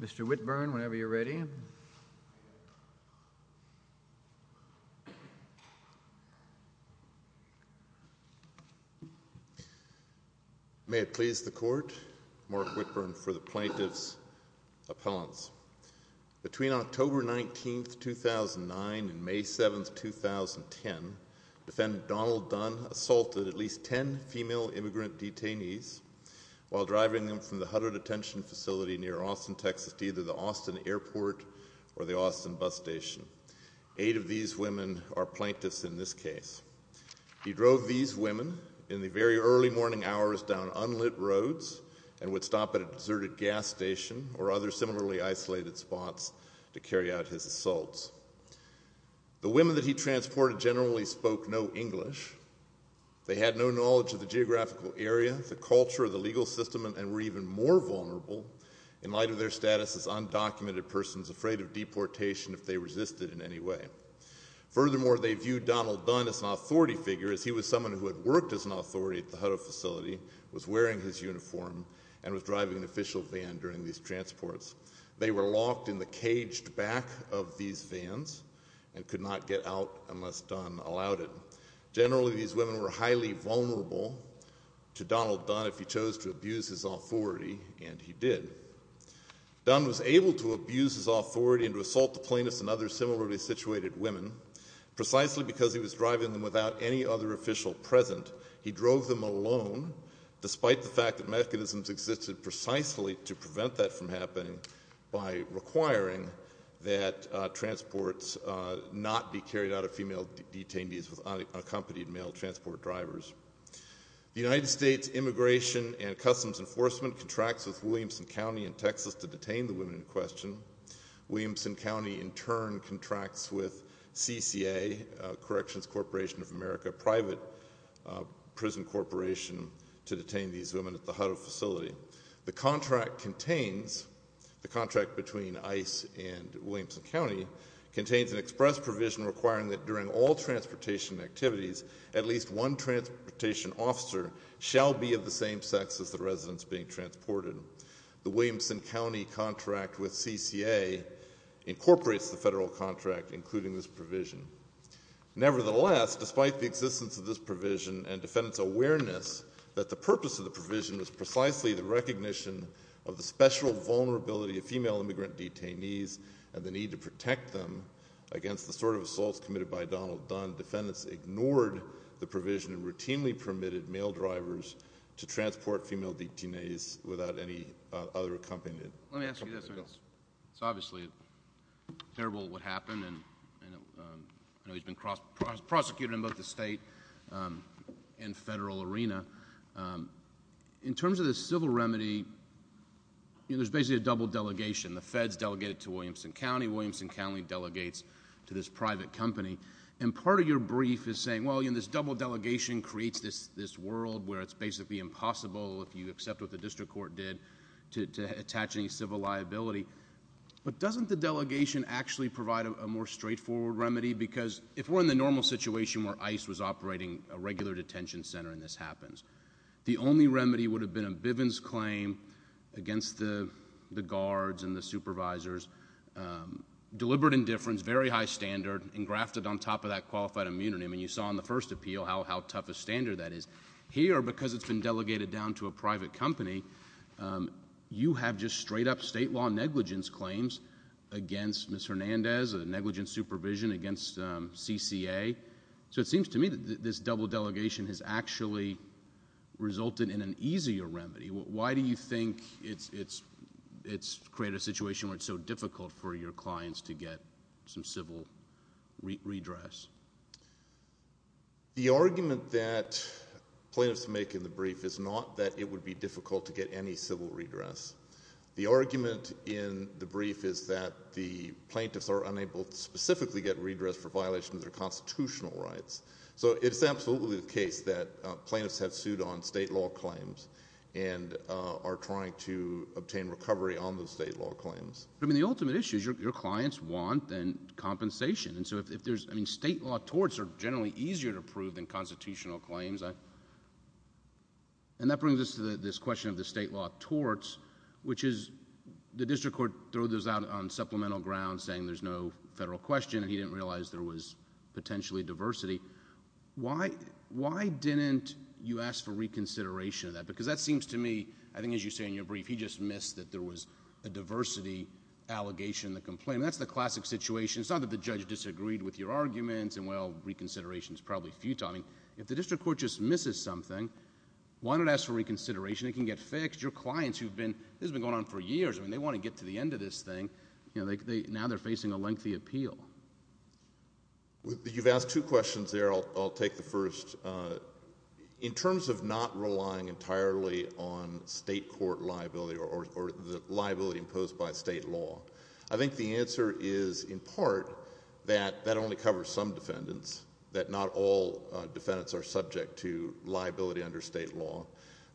Mr. Whitburn, whenever you're ready. May it please the Court, Mark Whitburn for the Plaintiff's Appellants. Between October 19, 2009 and May 7, 2010, Defendant Donald Dunn assaulted at least ten female immigrant detainees while driving them from the Hutter Detention Facility near Austin, Texas to either the Austin Airport or the Austin Bus Station. Eight of these women are plaintiffs in this case. He drove these women in the very early morning hours down unlit roads and would stop at a deserted gas station or other similarly isolated spots to carry out his assaults. The women that he transported generally spoke no English. They had no knowledge of the geographical area, the culture, the legal system, and were even more vulnerable in light of their status as undocumented persons afraid of deportation if they resisted in any way. Furthermore, they viewed Donald Dunn as an authority figure as he was someone who had worked as an authority at the Hutter facility, was wearing his uniform, and was driving an official van during these transports. They were locked in the caged back of these vans and could not get out unless Dunn allowed it. Generally, these women were highly vulnerable to Donald Dunn if he chose to abuse his authority, and he did. Dunn was able to abuse his authority and to assault the plaintiffs and other similarly situated women precisely because he was driving them without any other official present. He drove them alone despite the fact that mechanisms existed precisely to prevent that from happening by requiring that transports not be carried out of female detainees with unaccompanied male transport drivers. The United States Immigration and Customs Enforcement contracts with Williamson County in Texas to detain the women in question. Williamson County in turn contracts with CCA, Corrections Corporation of America, a private prison corporation, to detain these women at the Hutter facility. The contract contains, the contract between ICE and Williamson County, contains an express provision requiring that during all transportation activities, at least one transportation officer shall be of the same sex as the residents being transported. The Williamson County contract with CCA incorporates the federal contract including this provision. Nevertheless, despite the existence of this provision and defendants' awareness that the recognition of the special vulnerability of female immigrant detainees and the need to protect them against the sort of assaults committed by Donald Dunn, defendants ignored the provision and routinely permitted male drivers to transport female detainees without any other accompaniment. Let me ask you this, it's obviously terrible what happened and I know he's been prosecuted in both the state and federal arena. In terms of the civil remedy, there's basically a double delegation. The feds delegate it to Williamson County, Williamson County delegates to this private company and part of your brief is saying, well, you know, this double delegation creates this world where it's basically impossible if you accept what the district court did to attach any civil liability. But doesn't the delegation actually provide a more straightforward remedy because if we're in the normal situation where ICE was operating a regular detention center and this happens, the only remedy would have been a Bivens claim against the guards and the supervisors, deliberate indifference, very high standard, engrafted on top of that qualified immunity. I mean, you saw in the first appeal how tough a standard that is. Here because it's been delegated down to a private company, you have just straight up state law negligence claims against Ms. Hernandez, a negligent supervision against CCA. So it seems to me that this double delegation has actually resulted in an easier remedy. Why do you think it's created a situation where it's so difficult for your clients to get some civil redress? The argument that plaintiffs make in the brief is not that it would be difficult to get any civil redress. The argument in the brief is that the plaintiffs are unable to specifically get redress for violations of their constitutional rights. So it's absolutely the case that plaintiffs have sued on state law claims and are trying to obtain recovery on those state law claims. But I mean, the ultimate issue is your clients want then compensation. And so if there's, I mean, state law torts are generally easier to prove than constitutional claims. And that brings us to this question of the state law torts, which is the district court throw those out on supplemental grounds saying there's no federal question and he didn't realize there was potentially diversity. Why didn't you ask for reconsideration of that? Because that seems to me, I think as you say in your brief, he just missed that there was a diversity allegation in the complaint. That's the classic situation. It's not that the judge disagreed with your arguments and well, reconsideration is probably futile. I mean, if the district court just misses something, why not ask for reconsideration? It can get fixed. Your clients who've been, this has been going on for years, I mean, they want to get to the end of this thing. You know, now they're facing a lengthy appeal. You've asked two questions there, I'll take the first. In terms of not relying entirely on state court liability or the liability imposed by state law, I think the answer is in part that that only covers some defendants, that not all defendants are subject to liability under state law.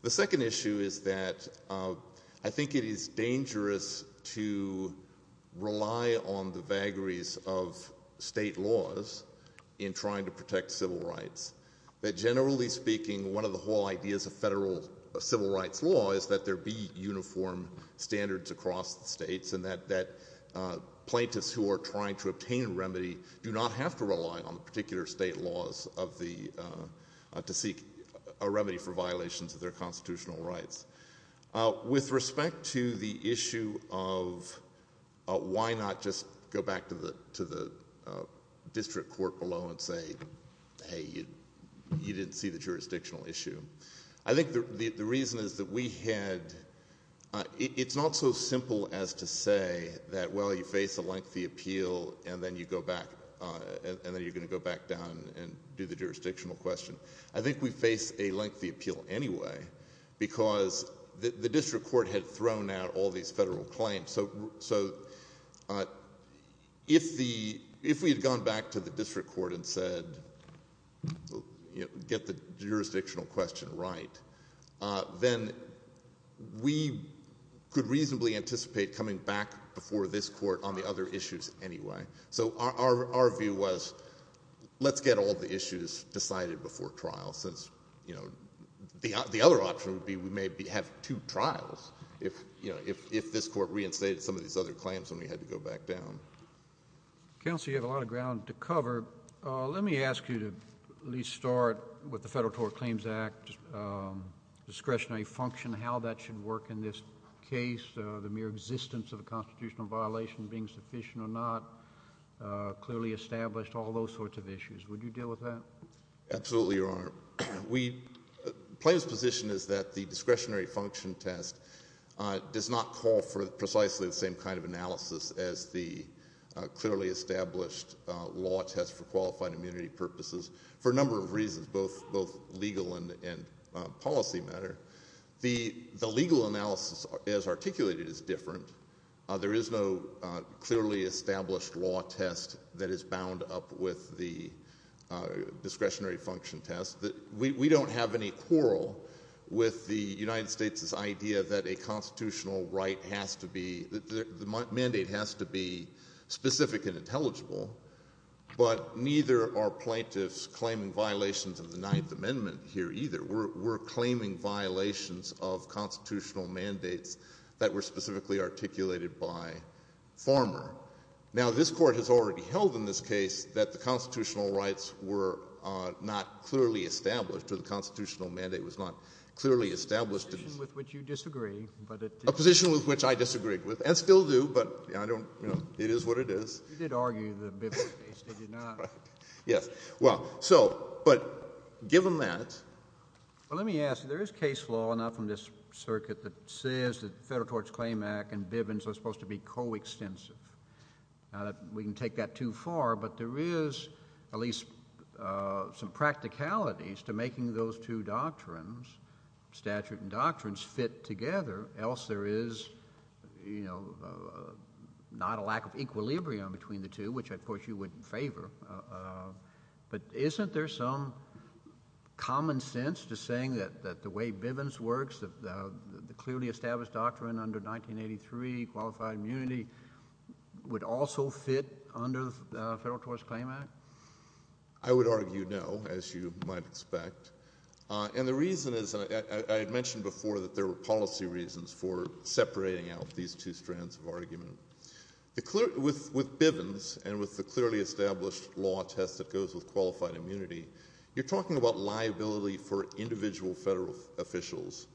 The second issue is that I think it is dangerous to rely on the vagaries of state laws in trying to protect civil rights, that generally speaking, one of the whole ideas of federal civil rights law is that there be uniform standards across the states and that plaintiffs who are trying to obtain remedy do not have to rely on the particular state laws of the, to seek a remedy for violations of their constitutional rights. With respect to the issue of why not just go back to the district court below and say, hey, you didn't see the jurisdictional issue. I think the reason is that we had, it's not so simple as to say that, well, you face a appeal and then you go back, and then you're going to go back down and do the jurisdictional question. I think we face a lengthy appeal anyway because the district court had thrown out all these federal claims. So if the, if we had gone back to the district court and said, get the jurisdictional question right, then we could reasonably anticipate coming back before this court on the other issues anyway. So our view was, let's get all the issues decided before trial since, you know, the other option would be we may have two trials if, you know, if this court reinstated some of these other claims when we had to go back down. Counsel, you have a lot of ground to cover. Let me ask you to at least start with the Federal Tort Claims Act discretionary function, how that should work in this case, the mere existence of a constitutional violation being sufficient or not, clearly established, all those sorts of issues, would you deal with that? Absolutely, Your Honor. We, the plaintiff's position is that the discretionary function test does not call for precisely the same kind of analysis as the clearly established law test for qualified immunity purposes for a number of reasons, both legal and policy matter. The legal analysis as articulated is different. There is no clearly established law test that is bound up with the discretionary function test. We don't have any quarrel with the United States' idea that a constitutional right has to be, the mandate has to be specific and intelligible, but neither are plaintiffs claiming violations of the Ninth Amendment here either. We're claiming violations of constitutional mandates that were specifically articulated by Farmer. Now this Court has already held in this case that the constitutional rights were not clearly established or the constitutional mandate was not clearly established. A position with which you disagree, but it did not. A position with which I disagreed with, and still do, but I don't, you know, it is what it is. You did argue the biblical case. They did not. Yes. Well, so, but given that. Well, let me ask you, there is case law, not from this circuit, that says that the Federal Tort Claim Act and Bivens are supposed to be coextensive. We can take that too far, but there is at least some practicalities to making those two doctrines, statute and doctrines, fit together, else there is, you know, not a lack of equilibrium between the two, which of course you would favor, but isn't there some common sense to saying that the way Bivens works, the clearly established doctrine under 1983, qualified immunity, would also fit under the Federal Tort Claim Act? I would argue no, as you might expect, and the reason is, and I had mentioned before that there were policy reasons for separating out these two strands of argument. With Bivens, and with the clearly established law test that goes with qualified immunity, you're talking about liability for individual federal officials.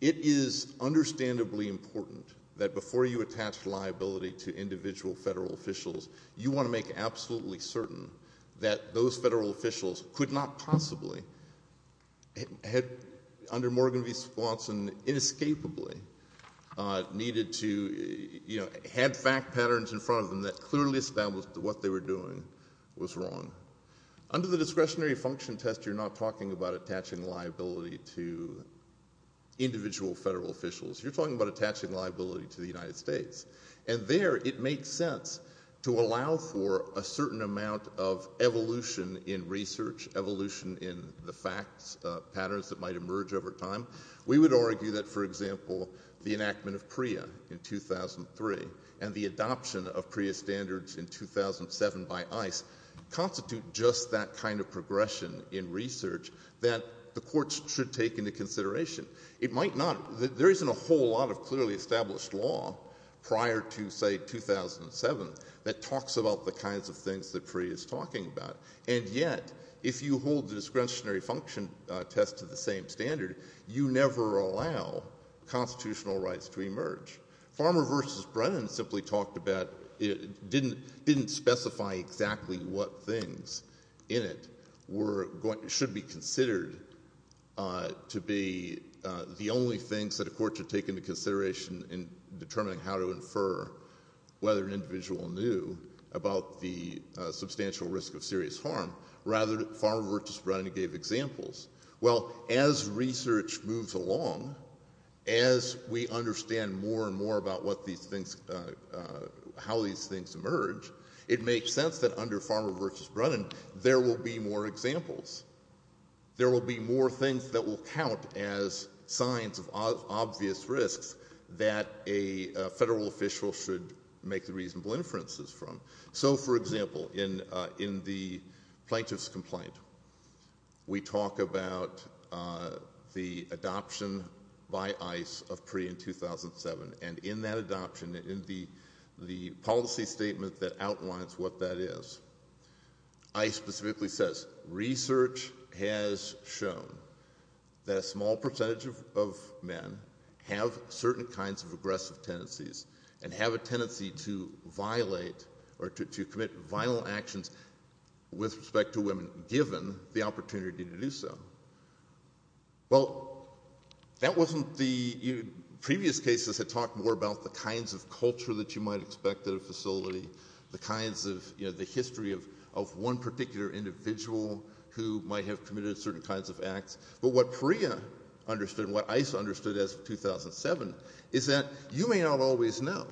It is understandably important that before you attach liability to individual federal officials, you want to make absolutely certain that those federal officials could not possibly, under Morgan v. Swanson, inescapably needed to, you know, had fact patterns in front of them that clearly established that what they were doing was wrong. Under the discretionary function test, you're not talking about attaching liability to individual federal officials. You're talking about attaching liability to the United States, and there it makes sense to allow for a certain amount of evolution in research, evolution in the facts, patterns that might emerge over time. We would argue that, for example, the enactment of PREA in 2003 and the adoption of PREA standards in 2007 by ICE constitute just that kind of progression in research that the courts should take into consideration. It might not. There isn't a whole lot of clearly established law prior to, say, 2007 that talks about the kinds of things that PREA is talking about. And yet, if you hold the discretionary function test to the same standard, you never allow constitutional rights to emerge. Farmer v. Brennan simply talked about, didn't specify exactly what things in it were, should be considered to be the only things that a court should take into consideration in determining how to infer whether an individual knew about the substantial risk of serious harm. Rather, Farmer v. Brennan gave examples. Well, as research moves along, as we understand more and more about how these things emerge, it makes sense that under Farmer v. Brennan, there will be more examples. There will be more things that will count as signs of obvious risks that a federal official should make the reasonable inferences from. So, for example, in the plaintiff's complaint, we talk about the adoption by ICE of PREA in 2007. And in that adoption, in the policy statement that outlines what that is, ICE specifically says, research has shown that a small percentage of men have certain kinds of aggressive tendencies and have a tendency to violate or to commit vile actions with respect to women, given the opportunity to do so. Well, that wasn't the, previous cases had talked more about the kinds of culture that you might expect at a facility, the kinds of, you know, the history of one particular individual who might have committed certain kinds of acts. But what PREA understood, what ICE understood as of 2007, is that you may not always know.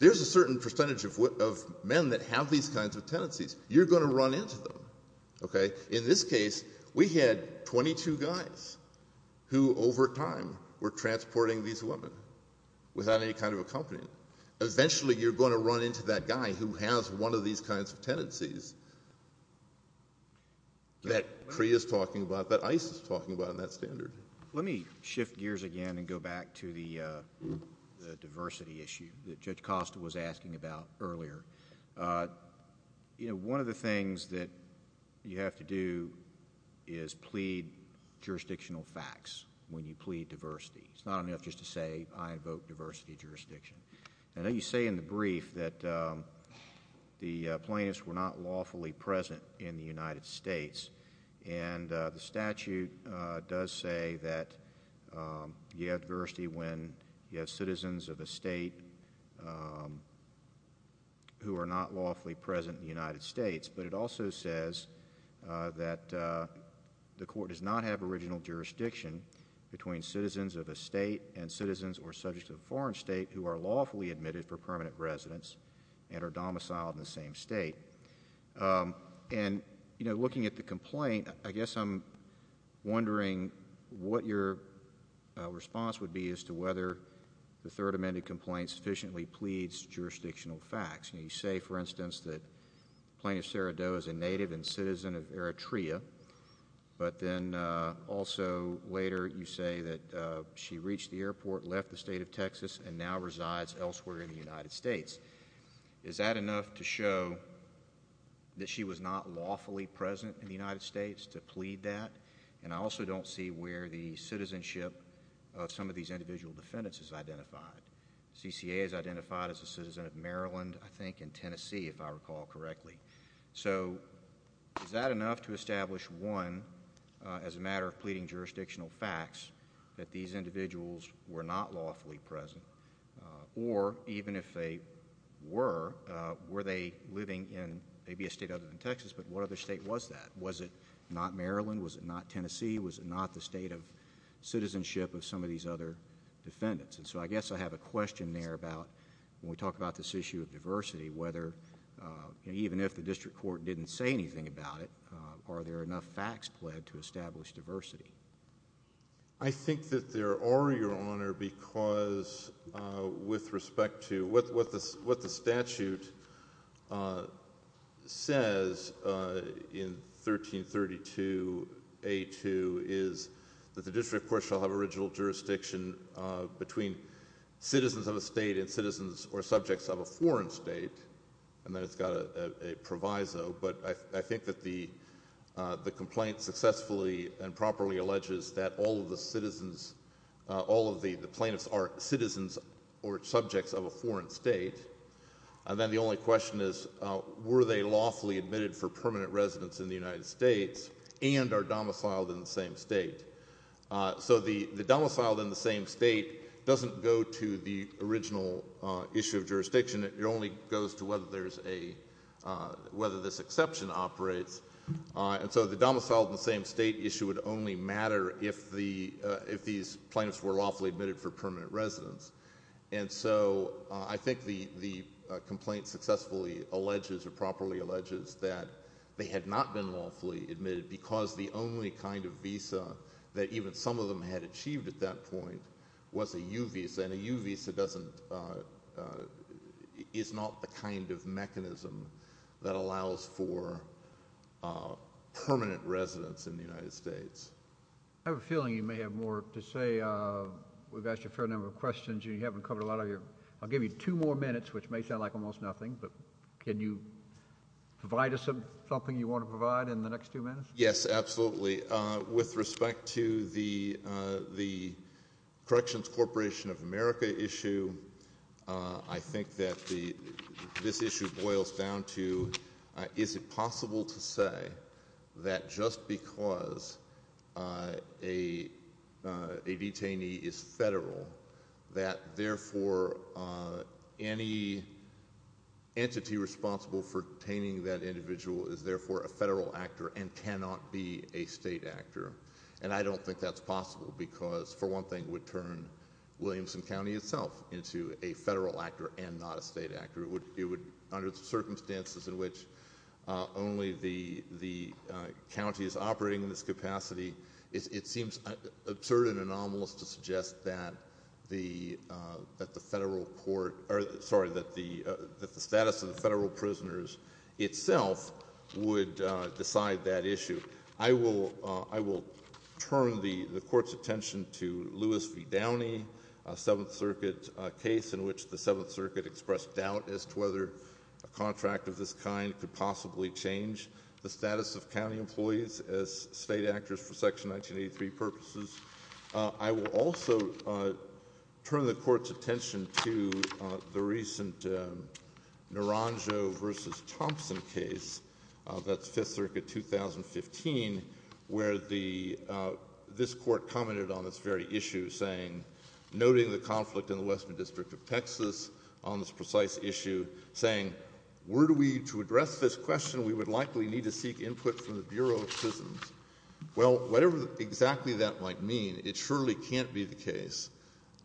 There's a certain percentage of men that have these kinds of tendencies. You're going to run into them, okay? In this case, we had 22 guys who, over time, were transporting these women without any kind of accompaniment. Eventually, you're going to run into that guy who has one of these kinds of tendencies that PREA is talking about, that ICE is talking about on that standard. Let me shift gears again and go back to the diversity issue that Judge Costa was asking about earlier. You know, one of the things that you have to do is plead jurisdictional facts when you plead diversity. It's not enough just to say, I invoke diversity jurisdiction. I know you say in the brief that the plaintiffs were not lawfully present in the United States, and the statute does say that you have diversity when you have citizens of a state who are not lawfully present in the United States, but it also says that the court does not have original jurisdiction between citizens of a state and citizens or subjects of a foreign state who are lawfully admitted for permanent residence and are domiciled in the same state. And, you know, looking at the complaint, I guess I'm wondering what your response would be as to whether the third amended complaint sufficiently pleads jurisdictional facts. You know, you say, for instance, that Plaintiff Sarah Doe is a native and citizen of Eritrea, but then also later you say that she reached the airport, left the state of Texas, and now resides elsewhere in the United States. Is that enough to show that she was not lawfully present in the United States to plead that? And I also don't see where the citizenship of some of these individual defendants is identified. CCA is identified as a citizen of Maryland, I think, and Tennessee, if I recall correctly. So is that enough to establish, one, as a matter of pleading jurisdictional facts, that these individuals were not lawfully present, or even if they were, were they living in maybe a state other than Texas, but what other state was that? Was it not Maryland? Was it not Tennessee? Was it not the state of citizenship of some of these other defendants? And so I guess I have a question there about when we talk about this issue of diversity, whether even if the district court didn't say anything about it, are there enough facts pled to establish diversity? I think that there are, Your Honor, because with respect to what the statute says in 1332 A.2 is that the district court shall have original jurisdiction between citizens of a state and citizens or subjects of a foreign state, and then it's got a proviso, but I think it alleges that all of the citizens, all of the plaintiffs are citizens or subjects of a foreign state, and then the only question is, were they lawfully admitted for permanent residence in the United States, and are domiciled in the same state? So the domiciled in the same state doesn't go to the original issue of jurisdiction, it only goes to whether there's a, whether this exception operates, and so the domiciled in the same state issue would only matter if the, if these plaintiffs were lawfully admitted for permanent residence, and so I think the complaint successfully alleges or properly alleges that they had not been lawfully admitted because the only kind of visa that even some of them had achieved at that point was a U visa, and a U visa doesn't, is not the kind of mechanism that allows for permanent residence in the United States. I have a feeling you may have more to say, we've asked you a fair number of questions and you haven't covered a lot of your, I'll give you two more minutes, which may sound like almost nothing, but can you provide us with something you want to provide in the next two minutes? Yes, absolutely. With respect to the, the Corrections Corporation of America issue, I think that the, this issue boils down to, is it possible to say that just because a, a detainee is federal, that therefore any entity responsible for detaining that individual is therefore a federal actor and cannot be a state actor? And I don't think that's possible because, for one thing, it would turn Williamson County itself into a federal actor and not a state actor. It would, under circumstances in which only the, the county is operating in this capacity, it seems absurd and anomalous to suggest that the federal court, or sorry, that the status of the federal prisoners itself would decide that issue. I will, I will turn the, the court's attention to Lewis v. Downey, a Seventh Circuit case in which the Seventh Circuit expressed doubt as to whether a contract of this kind could possibly change the status of county employees as state actors for Section 1983 purposes. I will also turn the court's attention to the recent Naranjo v. Thompson case, that's Fifth Circuit 2015, where the, this court commented on this very issue, saying, noting the conflict in the Western District of Texas on this precise issue, saying, were we to address this question, we would likely need to seek input from the Bureau of Prisons. Well, whatever exactly that might mean, it surely can't be the case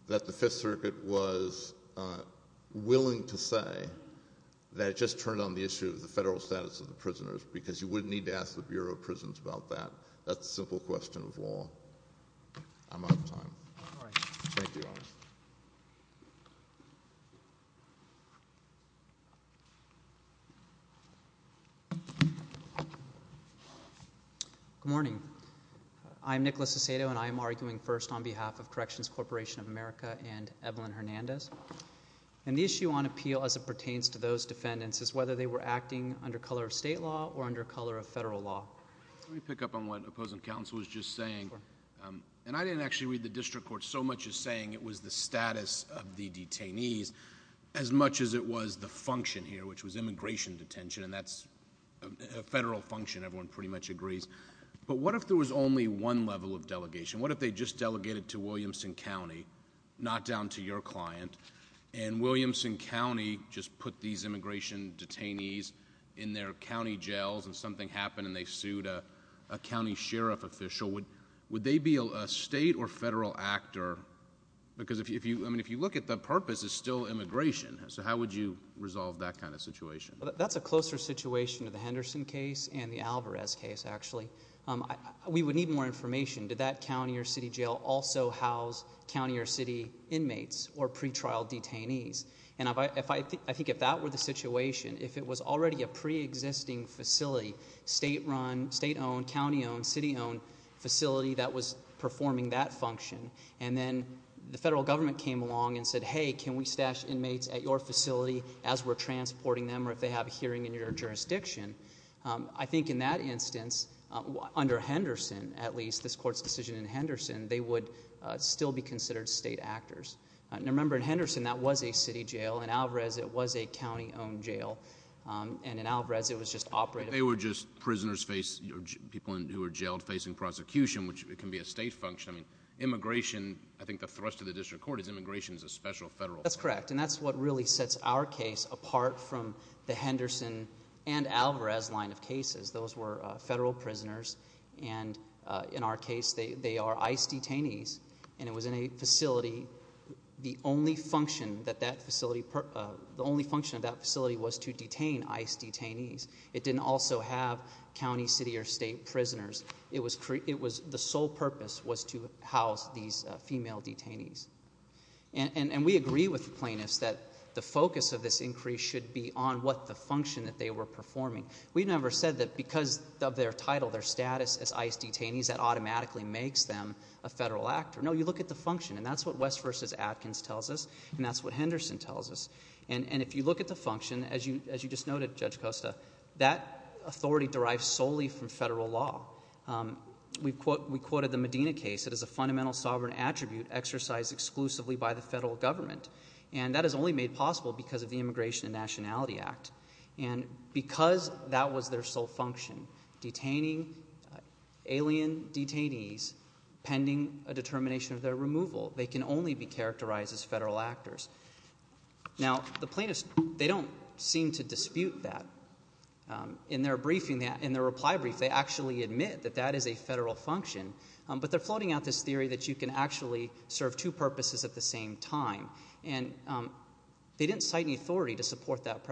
that the Fifth Circuit was willing to say that it just turned on the issue of the federal status of the prisoners, because you wouldn't need to ask the Bureau of Prisons about that. That's a simple question of law. I'm out of time. Thank you. Good morning. I'm Nicholas Aceto, and I am arguing first on behalf of Corrections Corporation of America and Evelyn Hernandez. And the issue on appeal as it pertains to those defendants is whether they were acting under color of state law or under color of federal law. Let me pick up on what Opposing Counsel was just saying. And I didn't actually read the district court so much as saying it was the status of the detainees as much as it was the function here, which was immigration detention, and that's a federal function, everyone pretty much agrees. But what if there was only one level of delegation? What if they just delegated to Williamson County, not down to your client, and Williamson County just put these immigration detainees in their county jails and something happened and they sued a county sheriff official? Would they be a state or federal actor? Because if you look at the purpose, it's still immigration, so how would you resolve that kind of situation? That's a closer situation to the Henderson case and the Alvarez case, actually. We would need more information. Did that county or city jail also house county or city inmates or pretrial detainees? And I think if that were the situation, if it was already a preexisting facility, state-run, state-owned, county-owned, city-owned facility that was performing that function, and then the federal government came along and said, hey, can we stash inmates at your facility as we're transporting them, or if they have a hearing in your jurisdiction, I think in that instance, under Henderson, at least, this court's decision in Henderson, they would still be considered state actors. Now, remember, in Henderson, that was a city jail. In Alvarez, it was a county-owned jail. And in Alvarez, it was just operated. But they were just prisoners face, people who were jailed facing prosecution, which can be a state function. I mean, immigration, I think the thrust of the district court is immigration is a special federal function. That's correct. And that's what really sets our case apart from the Henderson and Alvarez line of cases. Those were federal prisoners, and in our case, they are ICE detainees, and it was in a facility, the only function that that facility, the only function of that facility was to detain ICE detainees. It didn't also have county, city, or state prisoners. It was, the sole purpose was to house these female detainees. And we agree with the plaintiffs that the focus of this increase should be on what the function that they were performing. We never said that because of their title, their status as ICE detainees, that automatically makes them a federal actor. No, you look at the function, and that's what West v. Atkins tells us, and that's what Henderson tells us. And if you look at the function, as you just noted, Judge Costa, that authority derives solely from federal law. We've quoted the Medina case that is a fundamental sovereign attribute exercised exclusively by the federal government. And that is only made possible because of the Immigration and Nationality Act. And because that was their sole function, detaining alien detainees pending a determination of their removal. They can only be characterized as federal actors. Now, the plaintiffs, they don't seem to dispute that. In their briefing, in their reply brief, they actually admit that that is a federal function. But they're floating out this theory that you can actually serve two purposes at the same time. And they didn't cite any authority to support that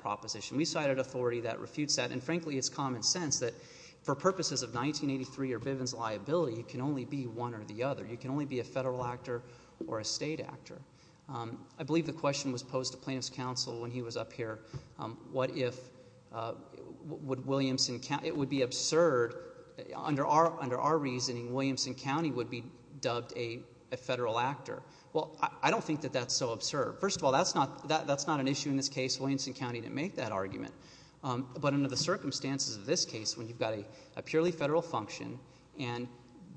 proposition. We cited authority that refutes that, and frankly, it's common sense that for purposes of 1983 or Bivens liability, you can only be one or the other. You can only be a federal actor or a state actor. I believe the question was posed to plaintiff's counsel when he was up here. What if, would Williamson County, it would be absurd, under our reasoning, Williamson County would be dubbed a federal actor. Well, I don't think that that's so absurd. First of all, that's not an issue in this case. Williamson County didn't make that argument. But under the circumstances of this case, when you've got a purely federal function, and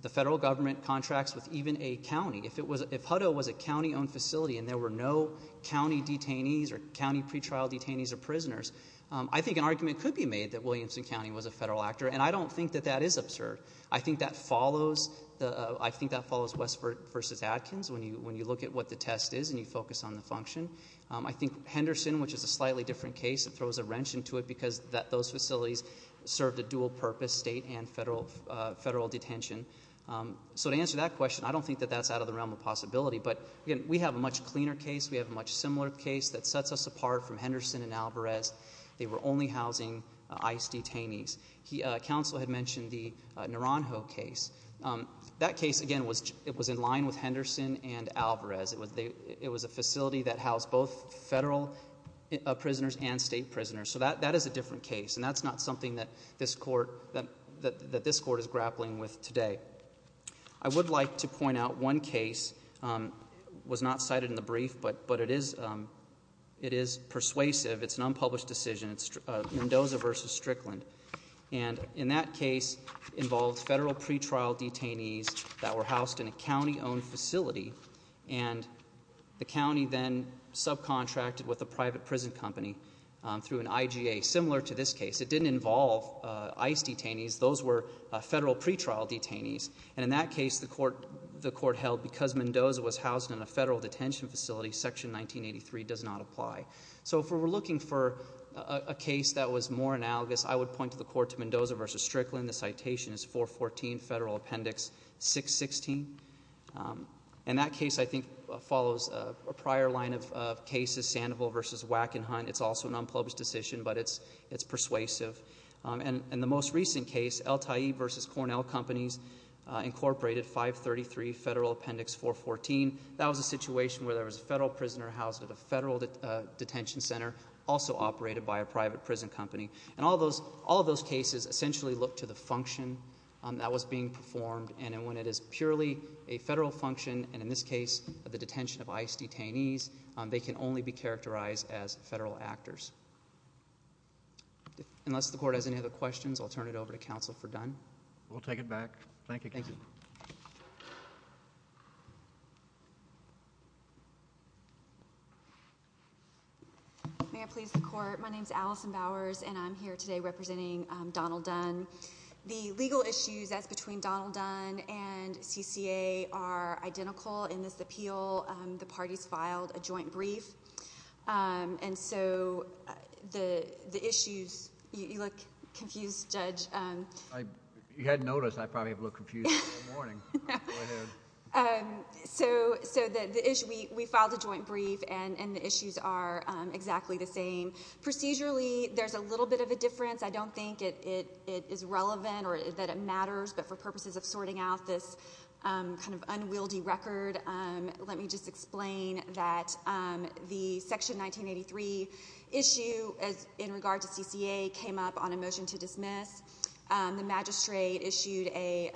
the federal government contracts with even a county. If it was, if Hutto was a county-owned facility and there were no county detainees or county pretrial detainees or prisoners, I think an argument could be made that Williamson County was a federal actor, and I don't think that that is absurd. I think that follows the, I think that follows Westford versus Adkins when you look at what the test is and you focus on the function. I think Henderson, which is a slightly different case, it throws a wrench into it because those facilities served a dual purpose, state and federal detention. So to answer that question, I don't think that that's out of the realm of possibility. But again, we have a much cleaner case, we have a much similar case that sets us apart from Henderson and Alvarez. They were only housing ICE detainees. Counsel had mentioned the Naranjo case. That case, again, it was in line with Henderson and Alvarez. It was a facility that housed both federal prisoners and state prisoners. So that is a different case, and that's not something that this court, that this court is grappling with today. I would like to point out one case was not cited in the brief, but it is persuasive. It's an unpublished decision, it's Mendoza versus Strickland. And in that case, involved federal pretrial detainees that were housed in a county-owned facility, and the county then subcontracted with a private prison company through an IGA. Similar to this case, it didn't involve ICE detainees. Those were federal pretrial detainees. And in that case, the court held because Mendoza was housed in a federal detention facility, Section 1983 does not apply. So if we're looking for a case that was more analogous, I would point to the court to Mendoza versus Strickland. The citation is 414 Federal Appendix 616. And that case, I think, follows a prior line of cases, Sandoval versus Wackenhut. It's also an unpublished decision, but it's persuasive. And the most recent case, El-Tayyib versus Cornell Companies, incorporated 533 Federal Appendix 414. That was a situation where there was a federal prisoner housed at a federal detention center, also operated by a private prison company. And all of those cases essentially look to the function that was being performed. And when it is purely a federal function, and in this case, the detention of ICE detainees, they can only be characterized as federal actors. Unless the court has any other questions, I'll turn it over to counsel for Dunn. We'll take it back. Thank you. Thank you. May I please the court? My name's Allison Bowers, and I'm here today representing Donald Dunn. The legal issues as between Donald Dunn and CCA are identical. In this appeal, the parties filed a joint brief. And so, the issues—you look confused, Judge. You hadn't noticed I probably have looked confused all morning. Go ahead. So, we filed a joint brief, and the issues are exactly the same. Procedurally, there's a little bit of a difference. I don't think it is relevant or that it matters, but for purposes of sorting out this kind of unwieldy record, let me just explain that the Section 1983 issue in regard to CCA came up on a motion to dismiss. The magistrate issued a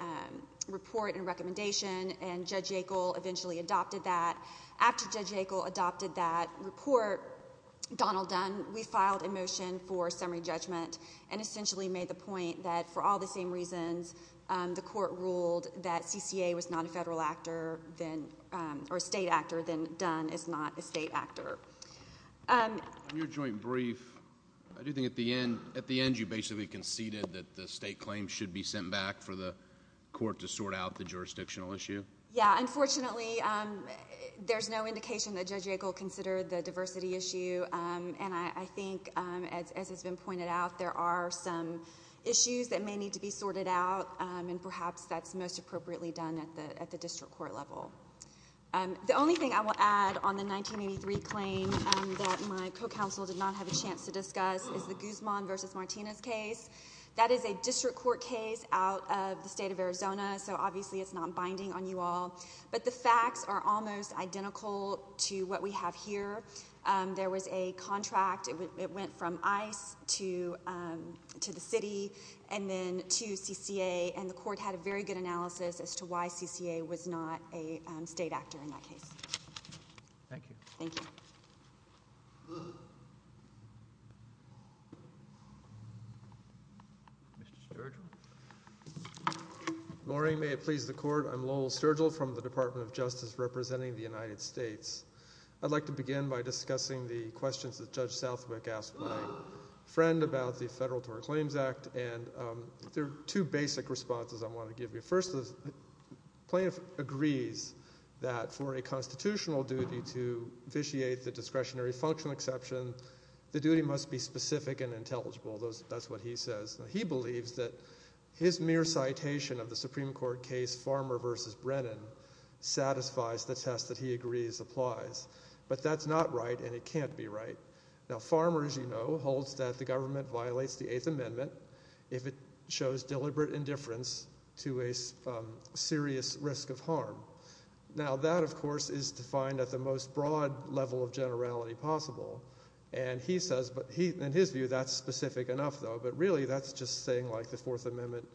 report and recommendation, and Judge Yackel eventually adopted that. After Judge Yackel adopted that report, Donald Dunn, we filed a motion for summary judgment and essentially made the point that for all the same reasons, the court ruled that CCA was not a federal actor, or a state actor, then Dunn is not a state actor. In your joint brief, I do think at the end you basically conceded that the state claims should be sent back for the court to sort out the jurisdictional issue. Yeah. Unfortunately, there's no indication that Judge Yackel considered the diversity issue. I think, as has been pointed out, there are some issues that may need to be sorted out, and perhaps that's most appropriately done at the district court level. The only thing I will add on the 1983 claim that my co-counsel did not have a chance to discuss is the Guzman v. Martinez case. That is a district court case out of the state of Arizona, so obviously it's not binding on you all, but the facts are almost identical to what we have here. There was a contract. It went from ICE to the city and then to CCA, and the court had a very good analysis as to why CCA was not a state actor in that case. Thank you. Thank you. Mr. Sturgill. Good morning. May it please the Court. I'm Lowell Sturgill from the Department of Justice representing the United States. I'd like to begin by discussing the questions that Judge Southwick asked my friend about the Federal Tort Claims Act, and there are two basic responses I want to give you. First, the plaintiff agrees that for a constitutional duty to vitiate the discretionary functional exception, the duty must be specific and intelligible. That's what he says. He believes that his mere citation of the Supreme Court case Farmer v. Brennan satisfies the test that he agrees applies, but that's not right and it can't be right. Now, Farmer, as you know, holds that the government violates the Eighth Amendment if it shows deliberate indifference to a serious risk of harm. Now, that, of course, is defined at the most broad level of generality possible, and he says in his view that's specific enough, though, but really that's just saying like the Fourth Amendment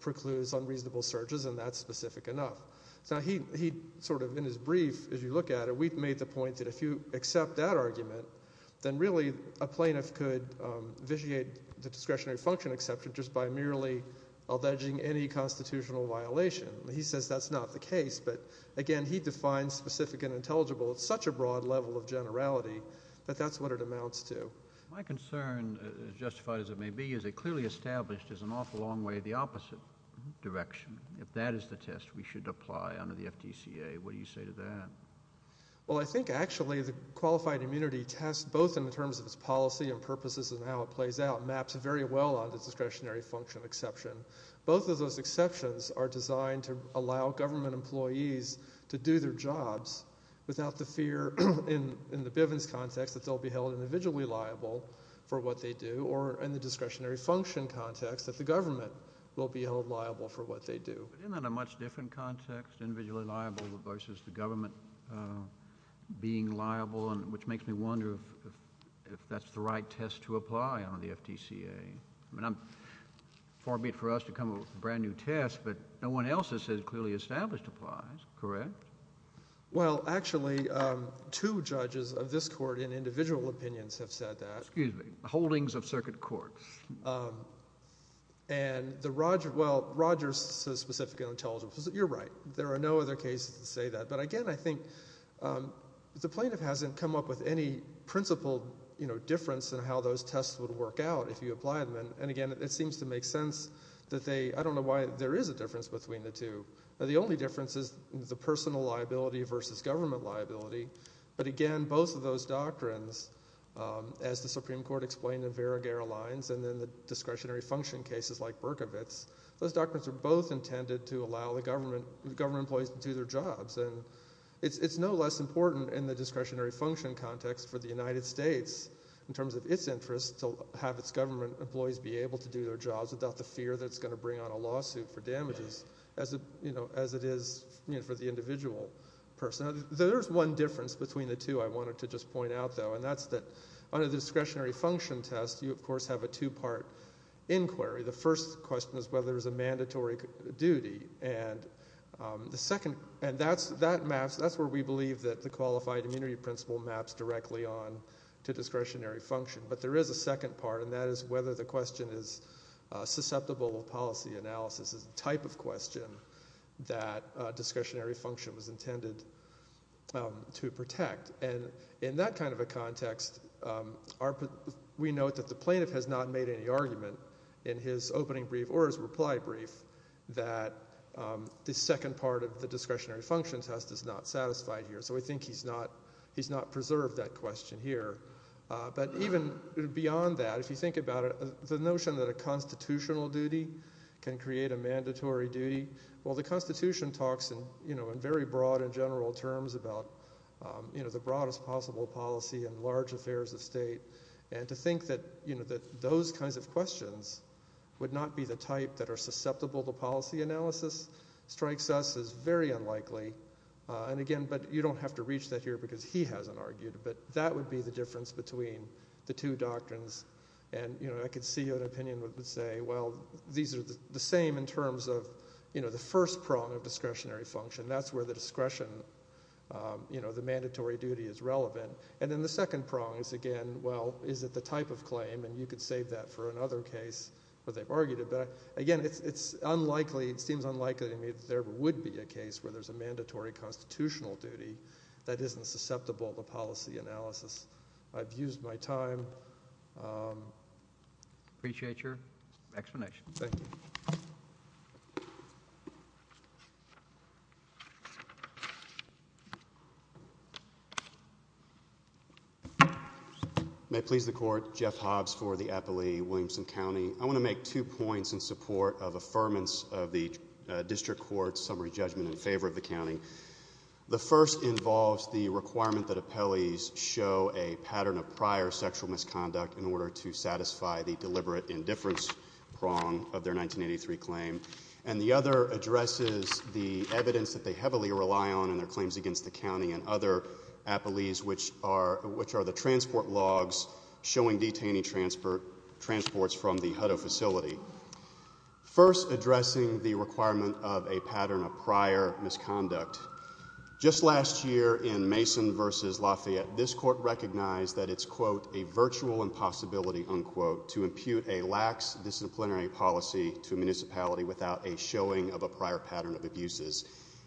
precludes unreasonable searches and that's specific enough. Now, he sort of in his brief, as you look at it, we've made the point that if you accept that argument, then really a plaintiff could vitiate the discretionary function exception just by merely alleging any constitutional violation. He says that's not the case, but again, he defines specific and intelligible at such a broad level of generality that that's what it amounts to. My concern, as justified as it may be, is it clearly established is an awful long way the opposite direction. If that is the test we should apply under the FTCA, what do you say to that? Well, I think actually the qualified immunity test, both in terms of its policy and purposes and how it plays out, maps very well onto discretionary function exception. Both of those exceptions are designed to allow government employees to do their jobs without the fear in the Bivens context that they'll be held individually liable for what they do or in the discretionary function context that the government will be held liable for what they do. Isn't that a much different context, individually liable versus the government being liable, which makes me wonder if that's the right test to apply on the FTCA? I mean, I'm forbid for us to come up with a brand new test, but no one else has said clearly established applies. Correct? Well, actually, two judges of this court in individual opinions have said that. Excuse me. Holdings of circuit court. And the Roger – well, Roger says specific and intelligible. You're right. There are no other cases that say that, but again, I think the plaintiff hasn't come up with any principled difference in how those tests would work out if you apply them. And again, it seems to make sense that they – I don't know why there is a difference between the two. The only difference is the personal liability versus government liability. But again, both of those doctrines, as the Supreme Court explained in Vera Gara lines and then the discretionary function cases like Berkovitz, those doctrines are both intended to allow the government employees to do their jobs. And it's no less important in the discretionary function context for the United States in terms of its interest to have its government employees be able to do their jobs without the fear that it's going to bring on a lawsuit for damages as it is for the individual person. There is one difference between the two I wanted to just point out, though, and that's that under the discretionary function test you, of course, have a two-part inquiry. The first question is whether there's a mandatory duty. And that's where we believe that the qualified immunity principle maps directly on to discretionary function. But there is a second part, and that is whether the question is susceptible to policy analysis as a type of question that discretionary function was intended to protect. And in that kind of a context, we note that the plaintiff has not made any argument in his opening brief or his reply brief that the second part of the discretionary function test is not satisfied here. So we think he's not preserved that question here. But even beyond that, if you think about it, the notion that a constitutional duty can create a mandatory duty, well, the Constitution talks in very broad and general terms about the broadest possible policy in large affairs of state. And to think that those kinds of questions would not be the type that are susceptible to policy analysis strikes us as very unlikely. And, again, you don't have to reach that here because he hasn't argued, but that would be the difference between the two doctrines. And I could see an opinion that would say, well, these are the same in terms of the first prong of discretionary function. That's where the discretion, the mandatory duty is relevant. And then the second prong is, again, well, is it the type of claim? And you could save that for another case where they've argued it. But, again, it's unlikely, it seems unlikely to me that there would be a case where there's a mandatory constitutional duty that isn't susceptible to policy analysis. I've used my time. I appreciate your explanation. Thank you. May it please the court. Jeff Hobbs for the appellee, Williamson County. I want to make two points in support of affirmance of the district court's summary judgment in favor of the county. The first involves the requirement that appellees show a pattern of prior sexual misconduct in order to satisfy the deliberate indifference prong of their 1983 claim. And the other addresses the evidence that they heavily rely on in their claims against the county and other appellees, which are the transport logs showing detainee transports from the Hutto facility. First, addressing the requirement of a pattern of prior misconduct. Just last year in Mason v. Lafayette, this court recognized that it's, quote, a virtual impossibility, unquote, to impute a lax disciplinary policy to a municipality without a showing of a prior pattern of abuses.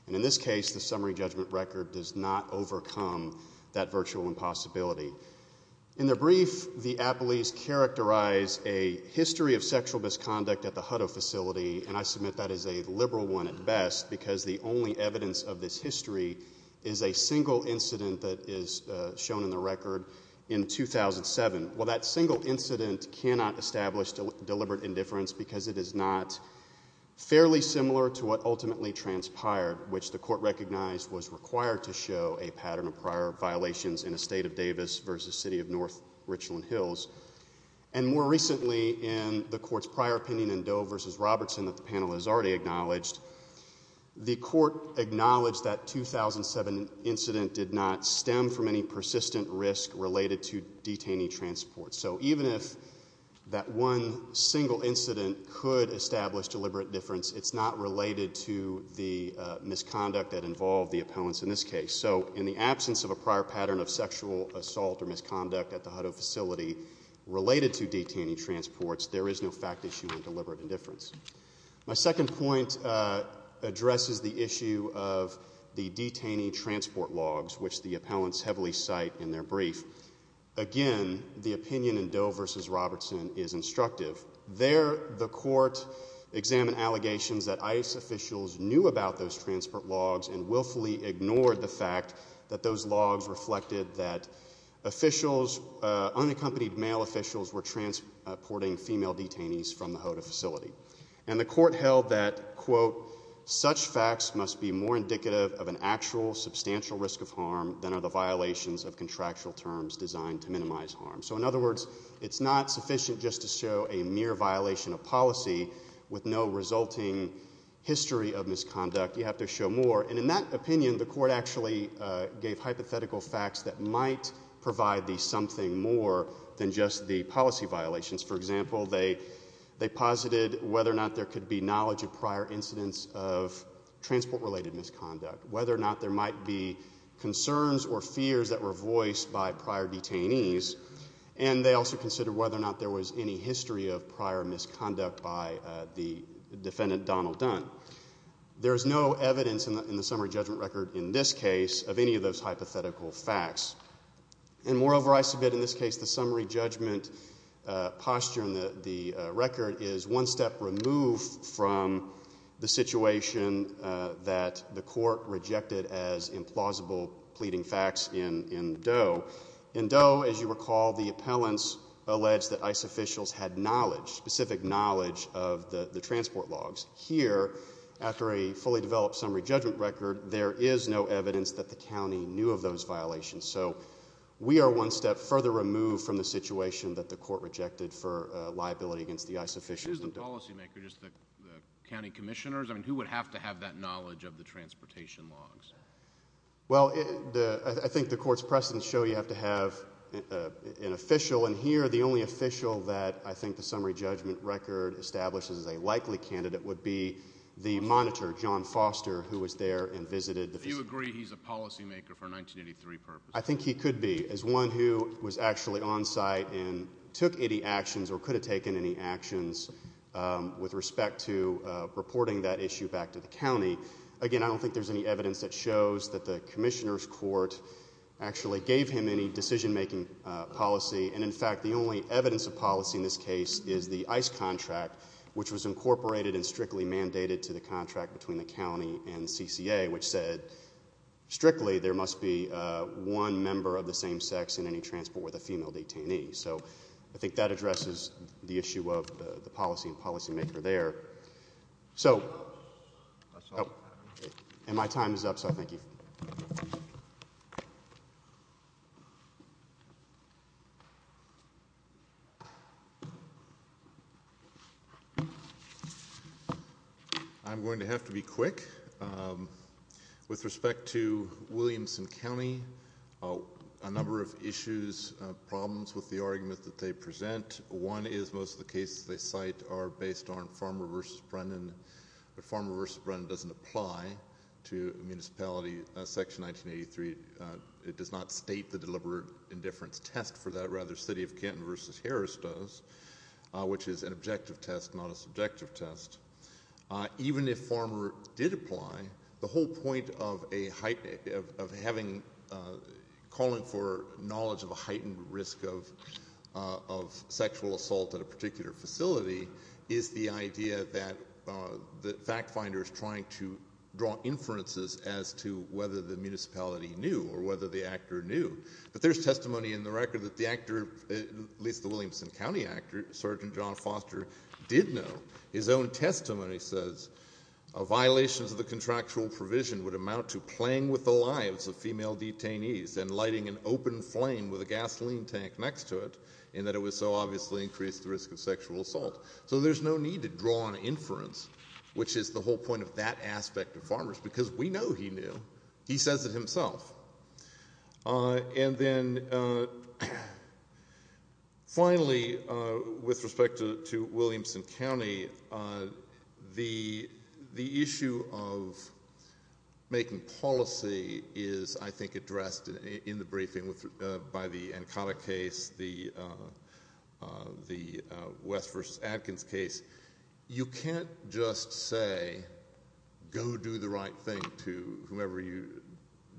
And in this case, the summary judgment record does not overcome that virtual impossibility. In the brief, the appellees characterize a history of sexual misconduct at the Hutto facility, and I submit that is a liberal one at best because the only evidence of this history is a single incident that is shown in the record in 2007. Well, that single incident cannot establish deliberate indifference because it is not fairly similar to what ultimately transpired, which the court recognized was required to show a pattern of prior violations in the state of Davis versus city of North Richland Hills. And more recently in the court's prior opinion in Doe v. Robertson that the panel has already acknowledged, the court acknowledged that 2007 incident did not stem from any persistent risk related to detainee transport. So even if that one single incident could establish deliberate indifference, it's not related to the misconduct that involved the appellants in this case. So in the absence of a prior pattern of sexual assault or misconduct at the Hutto facility related to detainee transports, there is no fact issue in deliberate indifference. My second point addresses the issue of the detainee transport logs, which the appellants heavily cite in their brief. Again, the opinion in Doe v. Robertson is instructive. There the court examined allegations that ICE officials knew about those transport logs and willfully ignored the fact that those logs reflected that officials, unaccompanied male officials were transporting female detainees from the Hutto facility. And the court held that, quote, such facts must be more indicative of an actual substantial risk of harm than are the violations of contractual terms designed to minimize harm. So in other words, it's not sufficient just to show a mere violation of policy with no resulting history of misconduct. You have to show more. And in that opinion, the court actually gave hypothetical facts that might provide the something more than just the policy violations. For example, they posited whether or not there could be knowledge of prior incidents of transport-related misconduct, whether or not there might be concerns or fears that were voiced by prior detainees, and they also considered whether or not there was any history of prior misconduct by the defendant Donald Dunn. There is no evidence in the summary judgment record in this case of any of those hypothetical facts. And moreover, I submit in this case the summary judgment posture in the record is one step removed from the situation that the court rejected as implausible pleading facts in Doe. In Doe, as you recall, the appellants alleged that ICE officials had knowledge, specific knowledge of the transport logs. Here, after a fully developed summary judgment record, there is no evidence that the county knew of those violations. So we are one step further removed from the situation that the court rejected for liability against the ICE officials in Doe. If you choose the policymaker, just the county commissioners, who would have to have that knowledge of the transportation logs? Well, I think the court's precedents show you have to have an official, and here the only official that I think the summary judgment record establishes as a likely candidate would be the monitor, John Foster, who was there and visited the facility. Do you agree he's a policymaker for a 1983 purpose? I think he could be as one who was actually on site and took any actions or could have taken any actions with respect to reporting that issue back to the county. Again, I don't think there's any evidence that shows that the commissioner's court actually gave him any decision-making policy, and in fact the only evidence of policy in this case is the ICE contract, which was incorporated and strictly mandated to the contract between the county and CCA, which said strictly there must be one member of the same sex in any transport with a female detainee. So I think that addresses the issue of the policy and policymaker there. So my time is up, so thank you. Thank you. I'm going to have to be quick. With respect to Williamson County, a number of issues, problems with the argument that they present. One is most of the cases they cite are based on Farmer v. Brennan, but Farmer v. Brennan doesn't apply to municipality section 1983. It does not state the deliberate indifference test for that. Rather, City of Canton v. Harris does, which is an objective test, not a subjective test. Even if Farmer did apply, the whole point of calling for knowledge of a heightened risk of sexual assault at a particular facility is the idea that the fact finder is trying to draw inferences as to whether the municipality knew or whether the actor knew. But there's testimony in the record that the actor, at least the Williamson County actor, Sergeant John Foster, did know. His own testimony says, violations of the contractual provision would amount to playing with the lives of female detainees and lighting an open flame with a gasoline tank next to it, and that it would so obviously increase the risk of sexual assault. So there's no need to draw an inference, which is the whole point of that aspect of Farmers, because we know he knew. He says it himself. And then, finally, with respect to Williamson County, the issue of making policy is, I think, addressed in the briefing by the Ancona case, the West v. Adkins case. You can't just say, go do the right thing to whomever you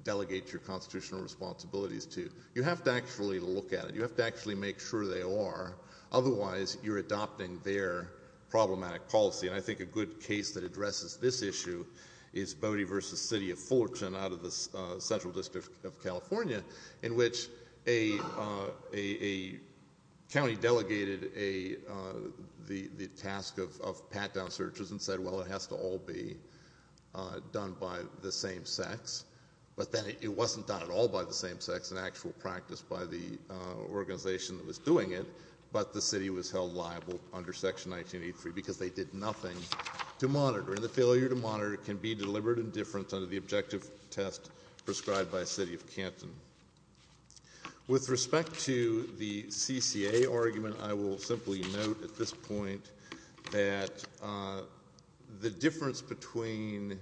delegate your constitutional responsibilities to. You have to actually look at it. You have to actually make sure they are. Otherwise, you're adopting their problematic policy. And I think a good case that addresses this issue is Bodie v. City of Fortune out of the Central District of California, in which a county delegated the task of pat-down searches and said, well, it has to all be done by the same sex. But then it wasn't done at all by the same sex, an actual practice by the organization that was doing it, but the city was held liable under Section 1983 because they did nothing to monitor. And the failure to monitor can be deliberate indifference under the objective test prescribed by a city of Canton. With respect to the CCA argument, I will simply note at this point that the difference between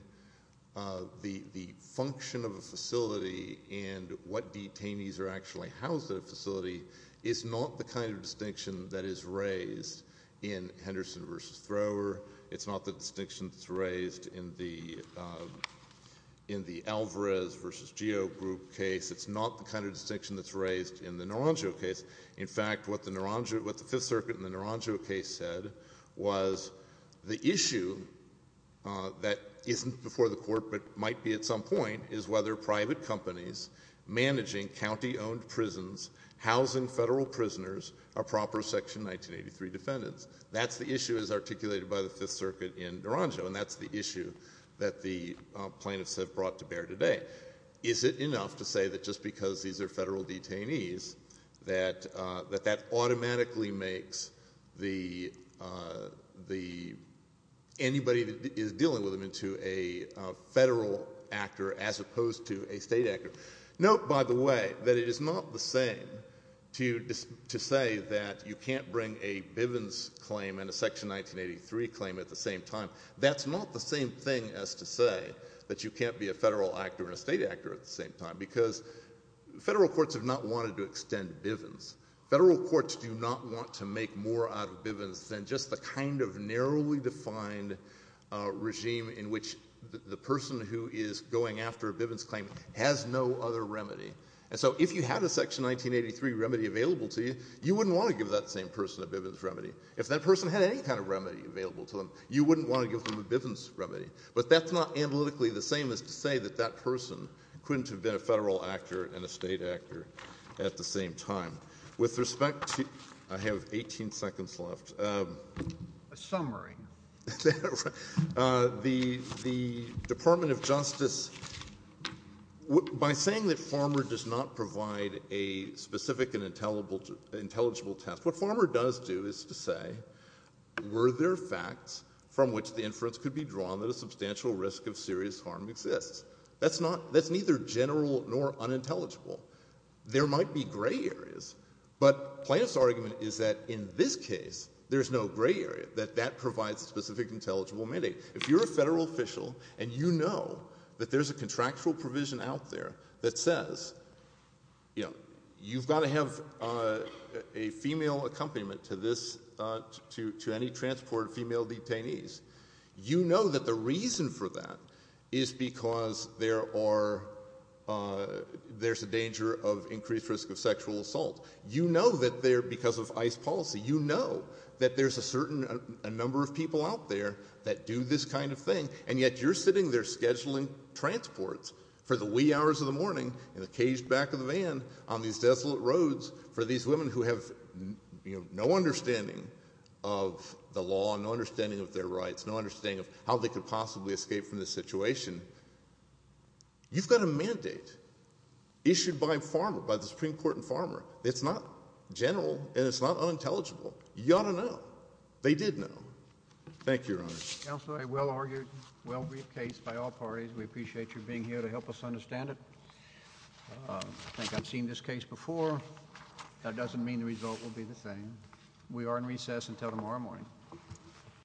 the function of a facility and what detainees are actually housed at a facility is not the kind of distinction that is raised in Henderson v. Thrower. It's not the distinction that's raised in the Alvarez v. Geo Group case. It's not the kind of distinction that's raised in the Naranjo case. In fact, what the Fifth Circuit in the Naranjo case said was the issue that isn't before the court but might be at some point is whether private companies managing county-owned prisons, housing federal prisoners, are proper Section 1983 defendants. That's the issue as articulated by the Fifth Circuit in Naranjo, and that's the issue that the plaintiffs have brought to bear today. Is it enough to say that just because these are federal detainees that that automatically makes anybody that is dealing with them into a federal actor as opposed to a state actor? Note, by the way, that it is not the same to say that you can't bring a Bivens claim and a Section 1983 claim at the same time. That's not the same thing as to say that you can't be a federal actor and a state actor at the same time because federal courts have not wanted to extend Bivens. Federal courts do not want to make more out of Bivens than just the kind of narrowly defined regime in which the person who is going after a Bivens claim has no other remedy. And so if you had a Section 1983 remedy available to you, you wouldn't want to give that same person a Bivens remedy. If that person had any kind of remedy available to them, you wouldn't want to give them a Bivens remedy. But that's not analytically the same as to say that that person couldn't have been a federal actor and a state actor at the same time. With respect to ‑‑ I have 18 seconds left. A summary. The Department of Justice, by saying that Farmer does not provide a specific and intelligible test, what Farmer does do is to say, were there facts from which the inference could be drawn that a substantial risk of serious harm exists? That's neither general nor unintelligible. There might be gray areas, but Plaintiff's argument is that in this case there's no gray area, that that provides a specific intelligible mandate. If you're a federal official and you know that there's a contractual provision out there that says, you know, you've got to have a female accompaniment to this ‑‑ to any transport of female detainees, you know that the reason for that is because there are ‑‑ there's a danger of increased risk of sexual assault. You know that they're because of ICE policy. You know that there's a certain number of people out there that do this kind of thing, and yet you're sitting there scheduling transports for the wee hours of the morning in the caged back of the van on these desolate roads for these women who have, you know, no understanding of the law, no understanding of their rights, no understanding of how they could possibly escape from this situation. You've got a mandate issued by Farmer, by the Supreme Court in Farmer. It's not general and it's not unintelligible. You ought to know. They did know. Thank you, Your Honor. Counsel, a well‑argued, well‑briefed case by all parties. We appreciate your being here to help us understand it. I think I've seen this case before. That doesn't mean the result will be the same. We are in recess until tomorrow morning.